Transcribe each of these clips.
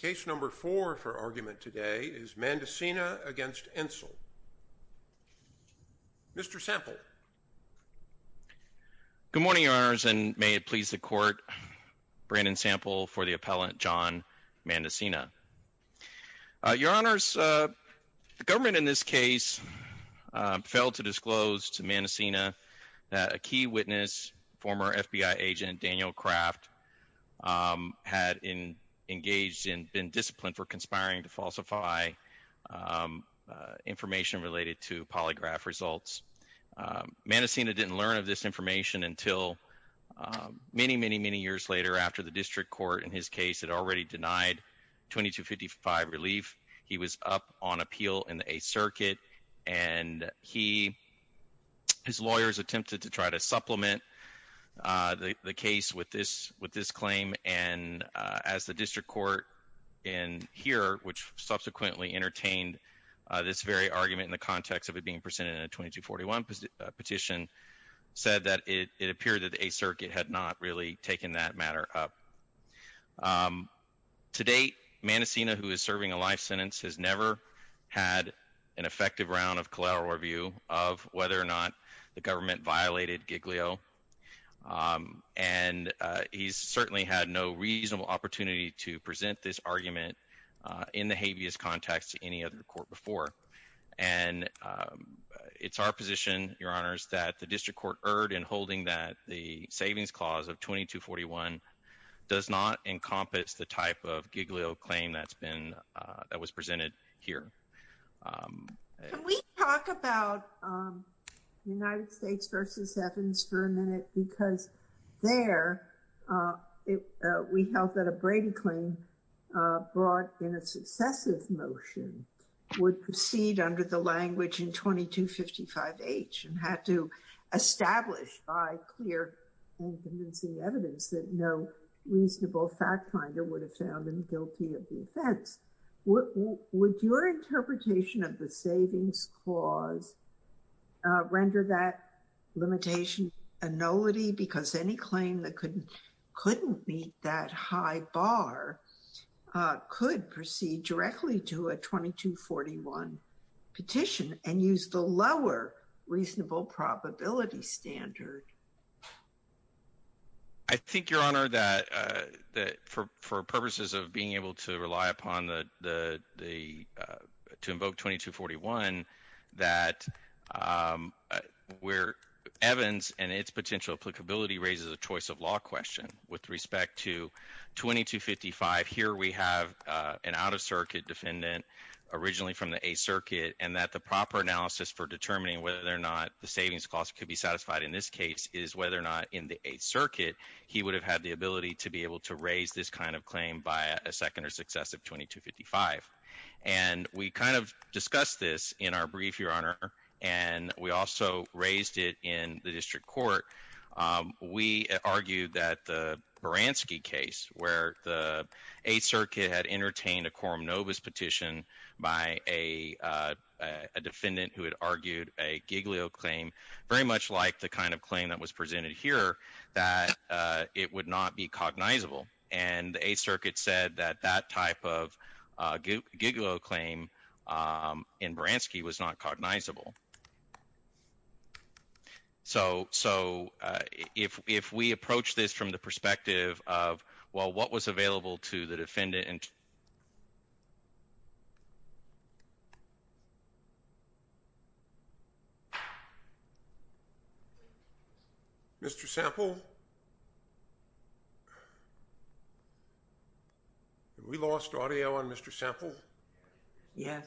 Case number four for argument today is Mandacina v. Entzel. Mr. Sample. Good morning, Your Honors, and may it please the Court. Brandon Sample for the appellant, John Mandacina. Your Honors, the government in this case failed to disclose to Mandacina that a key witness, former FBI agent Daniel Kraft, had engaged in, been disciplined for conspiring to falsify information related to polygraph results. Mandacina didn't learn of this information until many, many, many years later after the district court in his case had already denied 2255 relief. He was up on appeal in the Eighth Circuit, and his lawyers attempted to try to supplement the case with this claim, and as the district court in here, which subsequently entertained this very argument in the context of it being presented in a 2241 petition, said that it appeared that the Eighth Circuit had not really taken that matter up. To date, Mandacina, who is serving a life sentence, has never had an effective round of collateral review of whether or not the government violated Giglio, and he's certainly had no reasonable opportunity to present this argument in the habeas context to any other court before. And it's our position, Your Honors, that the district court erred in does not encompass the type of Giglio claim that was presented here. Can we talk about the United States v. Evans for a minute? Because there, we held that a Brady claim brought in a successive motion would proceed under the language in 2255H and had to establish by clear and convincing evidence that no reasonable fact finder would have found him guilty of the offense. Would your interpretation of the savings clause render that limitation a nullity because any claim that couldn't meet that high bar could proceed directly to a 2241 petition and use the lower reasonable probability standard? I think, Your Honor, that for purposes of being able to rely upon the, to invoke 2241, that where Evans and its potential applicability raises a choice of law question. With respect to 2255, here we have an out-of-circuit defendant originally from the Eighth Circuit, and that the proper analysis for determining whether or not the savings clause could be satisfied in this case is whether or not in the Eighth Circuit he would have had the ability to be able to raise this kind of claim by a second or successive 2255. And we kind of discussed this in our brief, Your Honor, and we also raised it in the district court. We argued that the Baranski case where the Eighth Circuit had entertained a quorum novus petition by a defendant who had argued a Giglio claim, very much like the kind of claim that was presented here, that it would not be cognizable. And the Eighth Circuit said that that type of Giglio claim in Baranski was not cognizable. So if we approach this from the perspective of, well, what was available to the defendant? Mr. Sample? Have we lost audio on Mr. Sample? Yes.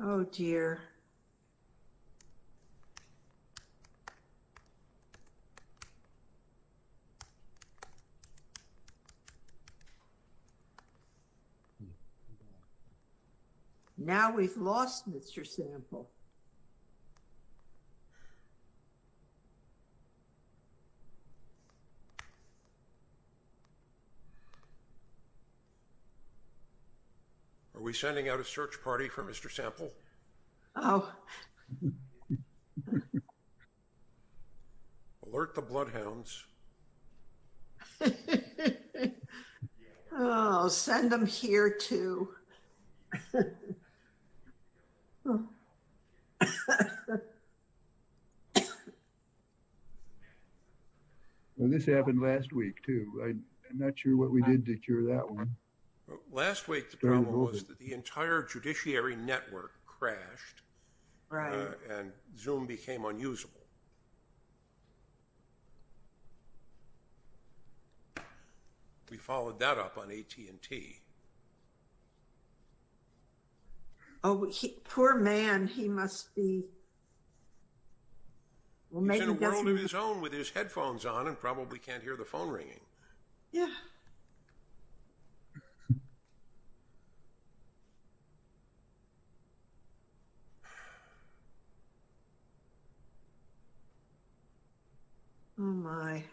Oh, dear. Oh, dear. Now we've lost Mr. Sample. Mr. Sample? Are we sending out a search party for Mr. Sample? Oh. Alert the bloodhounds. Oh, send them here, too. Well, this happened last week, too. I'm not sure what we did to cure that one. Last week, the problem was that the entire judiciary network crashed. And Zoom became unusable. We followed that up on AT&T. Oh, poor man, he must be. He's in a world of his own with his headphones on and probably can't hear the phone ringing. Yeah. Oh, dear.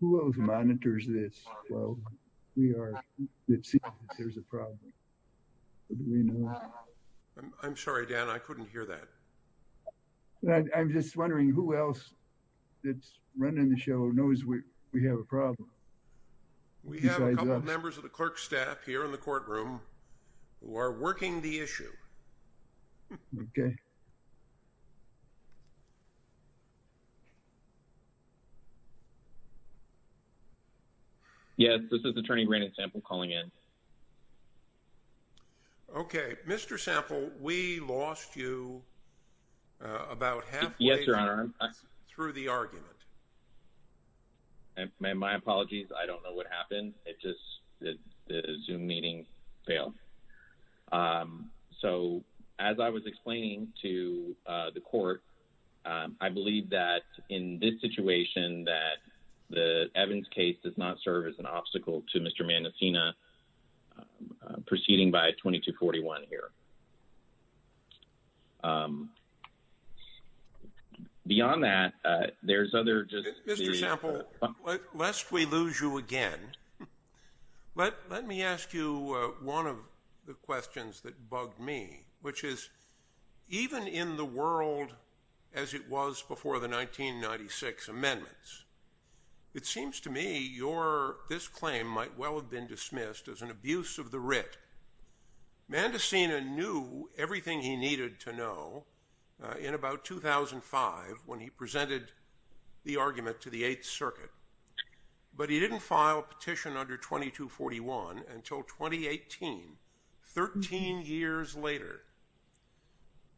Who else monitors this? We are. There's a problem. I'm sorry, Dan. I couldn't hear that. I'm just wondering who else. It's running the show knows where we have a problem. Members of the clerk staff here in the courtroom. Who are working the issue. Okay. Yes, this is attorney granted sample calling in. Okay. Mr. Sample, we lost you. About half. Yes, your honor. Through the argument. And my apologies. I don't know what happened. I don't know what happened. It just. Zoom meeting. Fail. So, as I was explaining to the court. I believe that in this situation, that the Evans case does not serve as an obstacle to Mr. Mancina. Proceeding by 2241 here. Beyond that. There's other just. Mr. Sample. Lest we lose you again. Let, let me ask you. One of. The questions that bug me, which is. Even in the world. As it was before the 1996 amendments. It seems to me your, this claim might well have been dismissed as an abuse of the writ. Man to seen a new, everything he needed to know. In about 2005, when he presented. The argument to the eighth circuit. But he didn't file a petition under 2241 until 2018. 13 years later.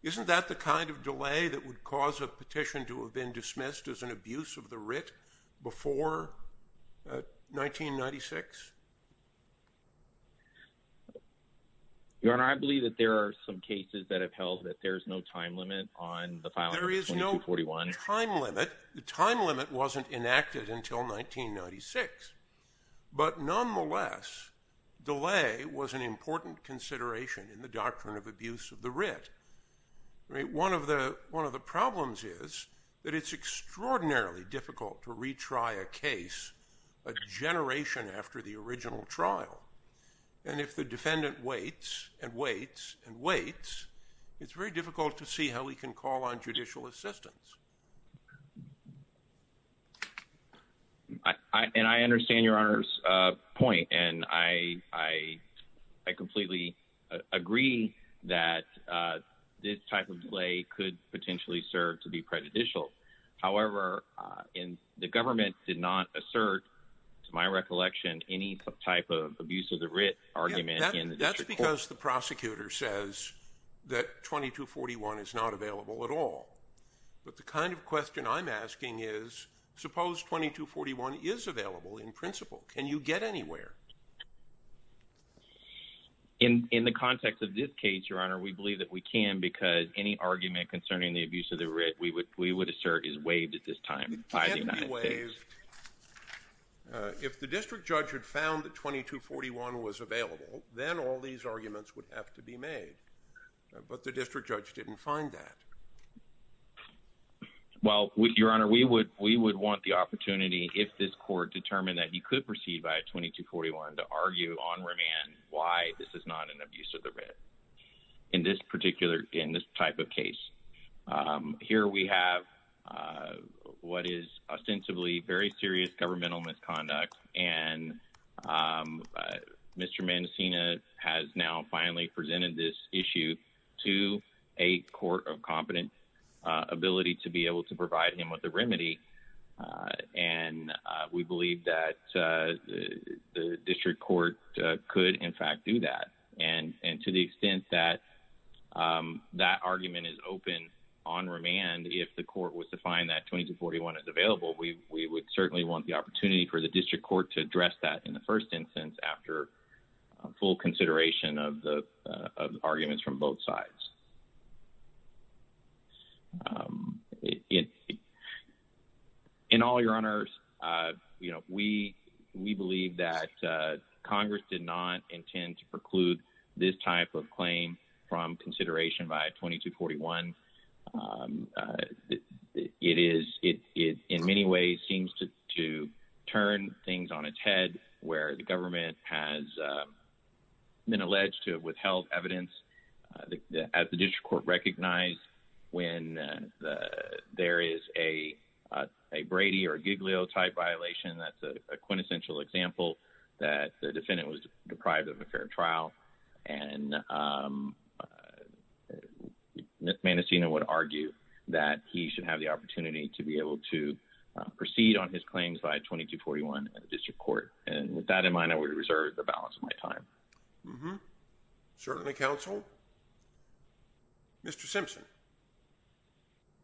Isn't that the kind of delay that would cause a petition to have been dismissed as an abuse of the writ. Before. 1996. Your honor. I believe that there are some cases that have held that there's no time limit on the file. There is no time limit. The time limit wasn't enacted until 1996. But nonetheless. Delay was an important consideration in the doctrine of abuse of the writ. Right. One of the, one of the problems is. That it's extraordinarily difficult to retry a case. A generation after the original trial. And if the defendant waits and waits and waits. It's very difficult to see how we can call on judicial assistance. I, and I understand your honor's point and I, I. I completely agree that. This type of delay could potentially serve to be prejudicial. However, in the government did not assert. To my recollection, any type of abuse of the writ argument. That's because the prosecutor says. That 2241 is not available at all. But the kind of question I'm asking is. Suppose 2241 is available in principle. Can you get anywhere? In, in the context of this case, your honor, we believe that we can because any argument concerning the abuse of the writ, we would, we would assert is waived at this time. If the district judge had found the 2241 was available. Then all these arguments would have to be made. But the district judge didn't find that. Well, with your honor, we would, we would want the opportunity. If this court determined that he could proceed by a 2241 to argue on remand, why this is not an abuse of the red. In this particular, in this type of case. Here we have. What is ostensibly very serious governmental misconduct. And. Mr. Mendocino has now finally presented this issue. To a court of competent. Ability to be able to provide him with the remedy. And we believe that. The district court could in fact do that. And, and to the extent that. That argument is open on remand. If the court was to find that 2241 is available, we, we would certainly want the opportunity for the district court to address that in the first instance, after. Full consideration of the arguments from both sides. In all your honors, you know, we, we believe that Congress did not intend to preclude this type of claim. From consideration by 2241. It is it. In many ways seems to, to turn things on its head. Where the government has. Been alleged to withheld evidence. As the district court recognized. When the, there is a. A Brady or Giglio type violation. That's a quintessential example. That the defendant was deprived of a fair trial. And. Ms. Manessina would argue that he should have the opportunity to be able to. Proceed on his claims by 2241 district court. And with that in mind, I would reserve the balance of my time. Certainly counsel. Mr. Simpson.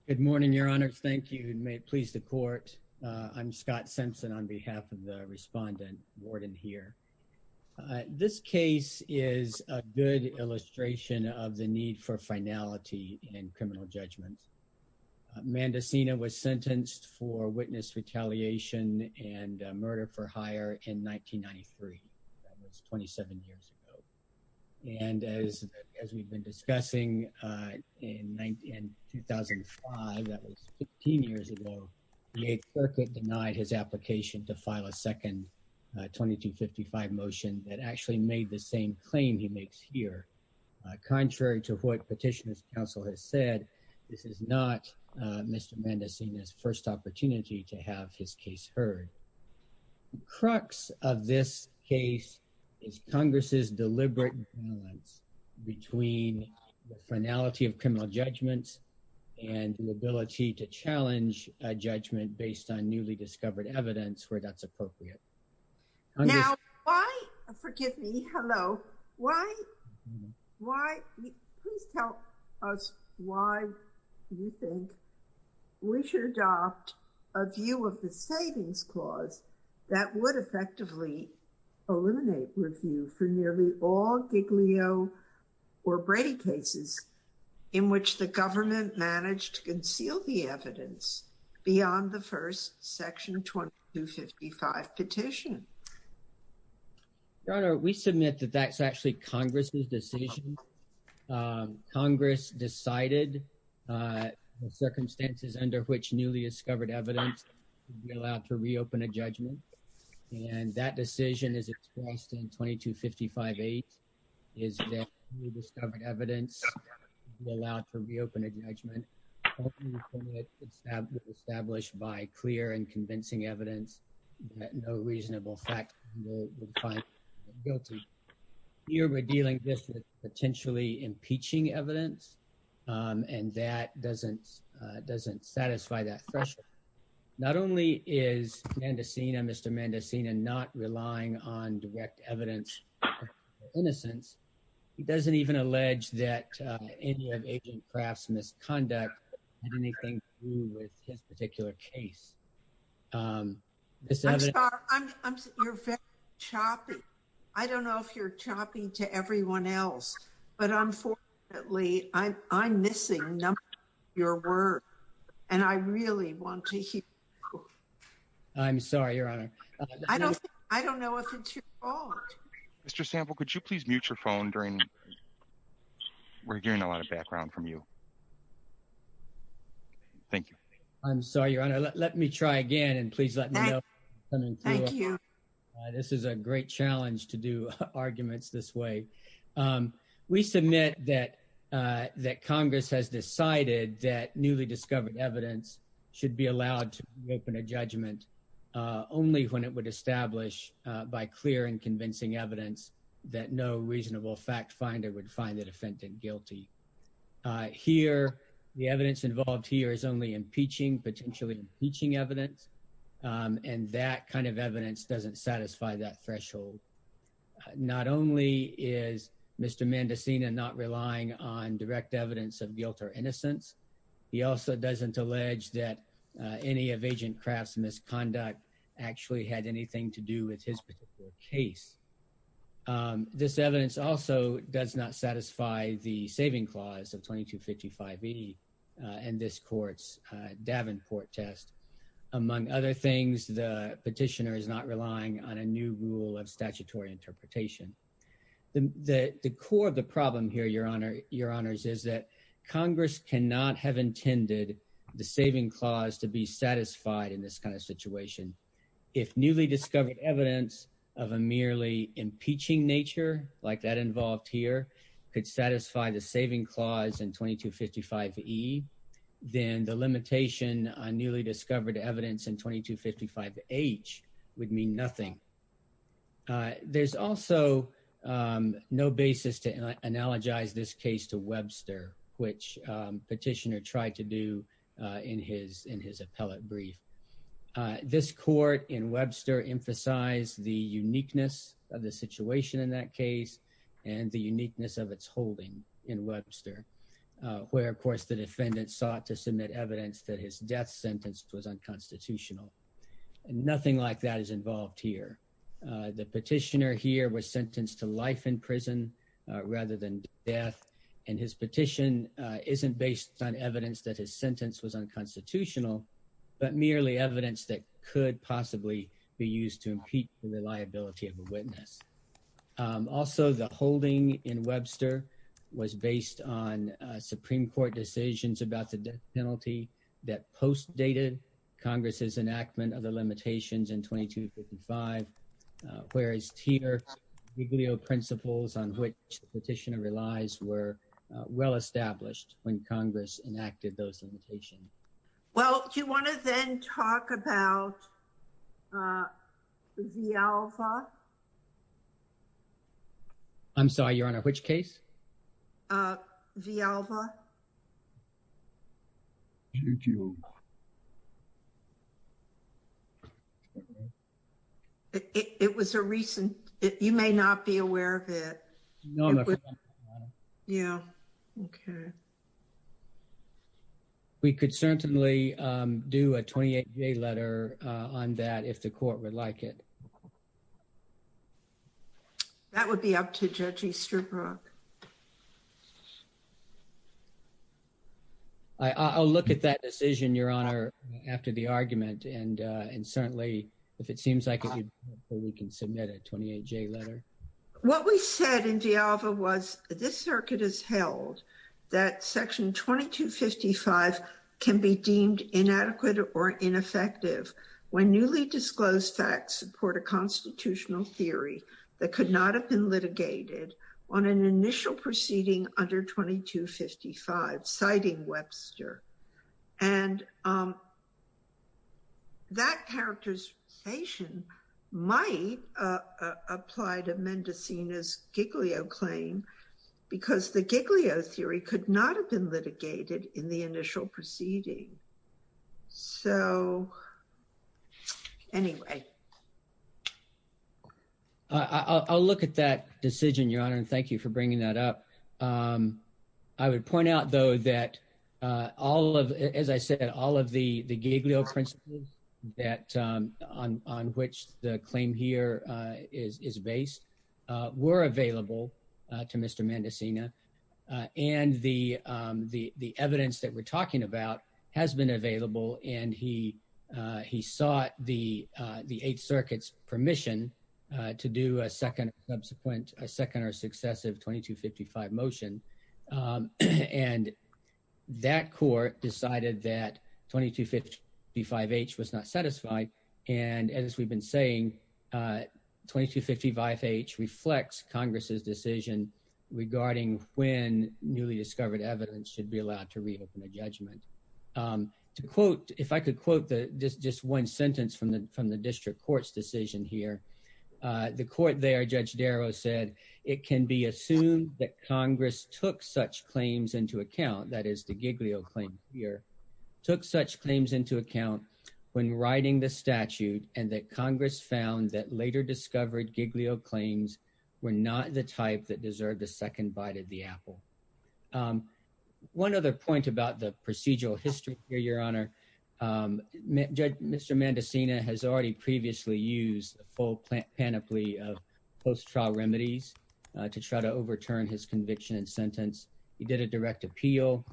Good morning, your honors. Thank you. And may it please the court. I'm Scott Simpson on behalf of the respondent warden here. And I'd like to begin with a brief history of this case. This case is a good illustration of the need for finality and criminal judgment. Amanda Sina was sentenced for witness retaliation and a murder for higher. In 1993. That was 27 years ago. And as, as we've been discussing. In 2005, that was 15 years ago. The eighth circuit denied his application to file a second. 2255 motion that actually made the same claim he makes here. Contrary to what petitioners counsel has said. This is not. Mr. Mendocino's first opportunity to have his case heard. And I would like to begin with a brief history of this case. The crux of this case. Is Congress's deliberate. Between the finality of criminal judgments. And the ability to challenge a judgment based on newly discovered evidence where that's appropriate. Forgive me. Hello. Why. Why. Please tell us why. You think. We should adopt. A view of the savings clause. That would effectively. Eliminate review for nearly all Giglio. Or Brady cases. In which the government managed to conceal the evidence beyond the reasonable fact. Circumstances under which newly discovered evidence. You're allowed to reopen a judgment. And that decision is expressed in 2255 eight. Is that. We discovered evidence. You're allowed to reopen a judgment. Established by clear and convincing evidence. No reasonable fact. I'm sorry. I'm sorry. We're dealing with potentially impeaching evidence. And that doesn't. It doesn't satisfy that pressure. Not only is. Mr. Mendocino not relying on direct evidence. Innocence. He doesn't even allege that. Perhaps misconduct. I'm sorry. I don't know if you're chopping to everyone else. But I'm for. At least I I'm missing. Your work. And I really want to. I'm sorry, your honor. I don't know if it's your fault. Mr. Sample, could you please mute your phone during. We're hearing a lot of background from you. Thank you. I'm sorry, your honor. Let me try again and please let me know. Thank you. This is a great challenge to do arguments this way. We submit that. That Congress has decided that newly discovered evidence. Should be allowed to open a judgment. Should be allowed to open a judgment. Only when it would establish by clear and convincing evidence. That no reasonable fact finder would find that offended guilty. Here. The evidence involved here is only impeaching, potentially impeaching evidence. And that kind of evidence doesn't satisfy that threshold. Not only is Mr. Mendocino not relying on direct evidence of guilt or innocence. He also doesn't allege that any of agent crafts misconduct actually had anything to do with his particular case. This evidence also does not satisfy the saving clause of 22 55. And this court's Davenport test. Among other things, the petitioner is not relying on a new rule of statutory interpretation. The, the, the core of the problem here, your honor, your honors, is that Congress cannot have intended the saving clause to be satisfied in this kind of situation. If newly discovered evidence of a merely impeaching nature like that involved here. Could satisfy the saving clause in 22 55 E. Then the limitation on newly discovered evidence in 22 55 H would mean nothing. There's also no basis to analogize this case to Webster, which petitioner tried to do in his, in his appellate brief. This court in Webster emphasize the uniqueness of the situation in that case. As the defendant sought to submit evidence that his death sentence was unconstitutional. And nothing like that is involved here. The petitioner here was sentenced to life in prison rather than death. And his petition isn't based on evidence that his sentence was unconstitutional, but merely evidence that could possibly be used to impeach the liability of a witness. Also the holding in Webster was based on a Supreme court decisions about the death penalty that post dated Congress's enactment of the limitations in 22 55. Whereas here, we glial principles on which petitioner relies were well-established when Congress enacted those limitations. Well, do you want to then talk about the alpha I'm sorry, your honor, which case the alpha it was a recent, you may not be aware of it. Yeah. Okay. We could certainly do a 28 day letter on that. If the court would like it. That would be up to judge Easterbrook. I I'll look at that decision, your honor, after the argument. And, and certainly if it seems like we can submit a 28 day letter, what we said in the alpha was this circuit is held that section 22, 55 can be deemed inadequate or ineffective when newly disclosed facts support a constitutional theory that could not have been litigated on an initial proceeding under 22, 55 citing Webster. And that characterization might apply to Mendocino's giglio claim, because the giglio theory could not have been litigated in the initial proceeding. So anyway, I'll look at that decision, your honor. And thank you for bringing that up. I would point out though, that all of, as I said, all of the giglio principles that on, on which the claim here is, is based were available to Mr. Mendocino and the, the, the evidence that we're talking about has been available. And he, he sought the the eight circuits permission to do a second, subsequent, a second or successive 22 55 motion. And that court decided that 22 55 H was not satisfied. And as we've been saying, 22 55 H reflects Congress's decision regarding when newly discovered evidence should be allowed to reopen a judgment to quote. If I could quote the, this just one sentence from the, from the district court's decision here, the court there, judge Darrow said it can be assumed that Congress took such claims into account. That is the giglio claim here took such claims into account when writing the statute. And that Congress found that later discovered giglio claims were not the type that deserved a second bite of the apple. One other point about the procedural history here, your honor judge, Mr. Mendocino has already previously used a full plant panoply of post-trial remedies to try to overturn his conviction and sentence. He did a direct appeal.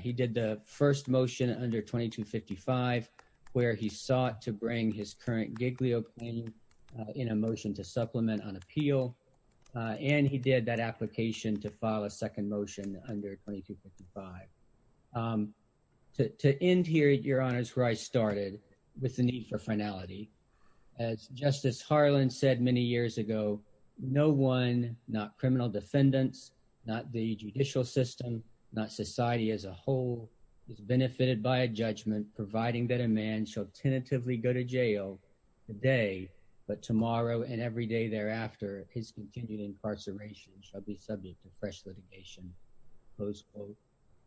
He did the first motion under 22 55, where he sought to bring his current giglio in a motion to supplement on appeal. And he did that application to file a second motion under 22 55 to, to end here at your honors where I started with the need for finality as justice Harlan said many years ago, no one, not criminal defendants, not the judicial system, not society as a whole is benefited by a judgment, providing that a man shall tentatively go to jail today, but tomorrow and every day thereafter, his continued incarceration shall be subject to fresh litigation. Close quote.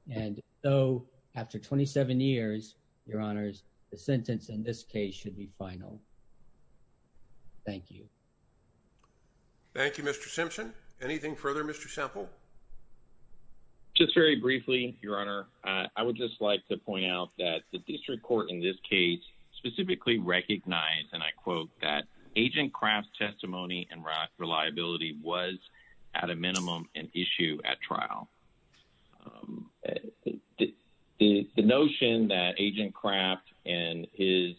And though after 27 years, your honors, the sentence in this case should be final. Thank you. Thank you, Mr. Simpson. Anything further, Mr. Sample, just very briefly, your honor. I would just like to point out that the district court in this case specifically recognize, and I quote that agent craft testimony and rock reliability was at a trial. The, the, the notion that agent craft and his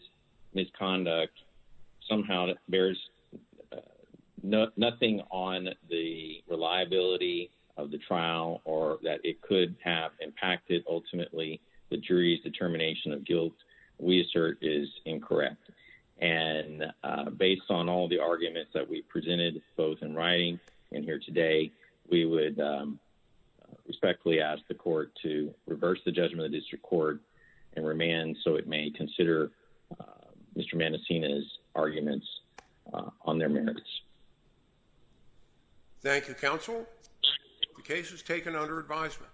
misconduct somehow bears no, nothing on the reliability of the trial or that it could have impacted ultimately the jury's determination of guilt. We assert is incorrect. And based on all the arguments that we presented, both in writing and here today, we would respectfully ask the court to reverse the judgment of the district court and remand. So it may consider Mr. Mendocino's arguments on their merits. Thank you. Counsel cases taken under advisement.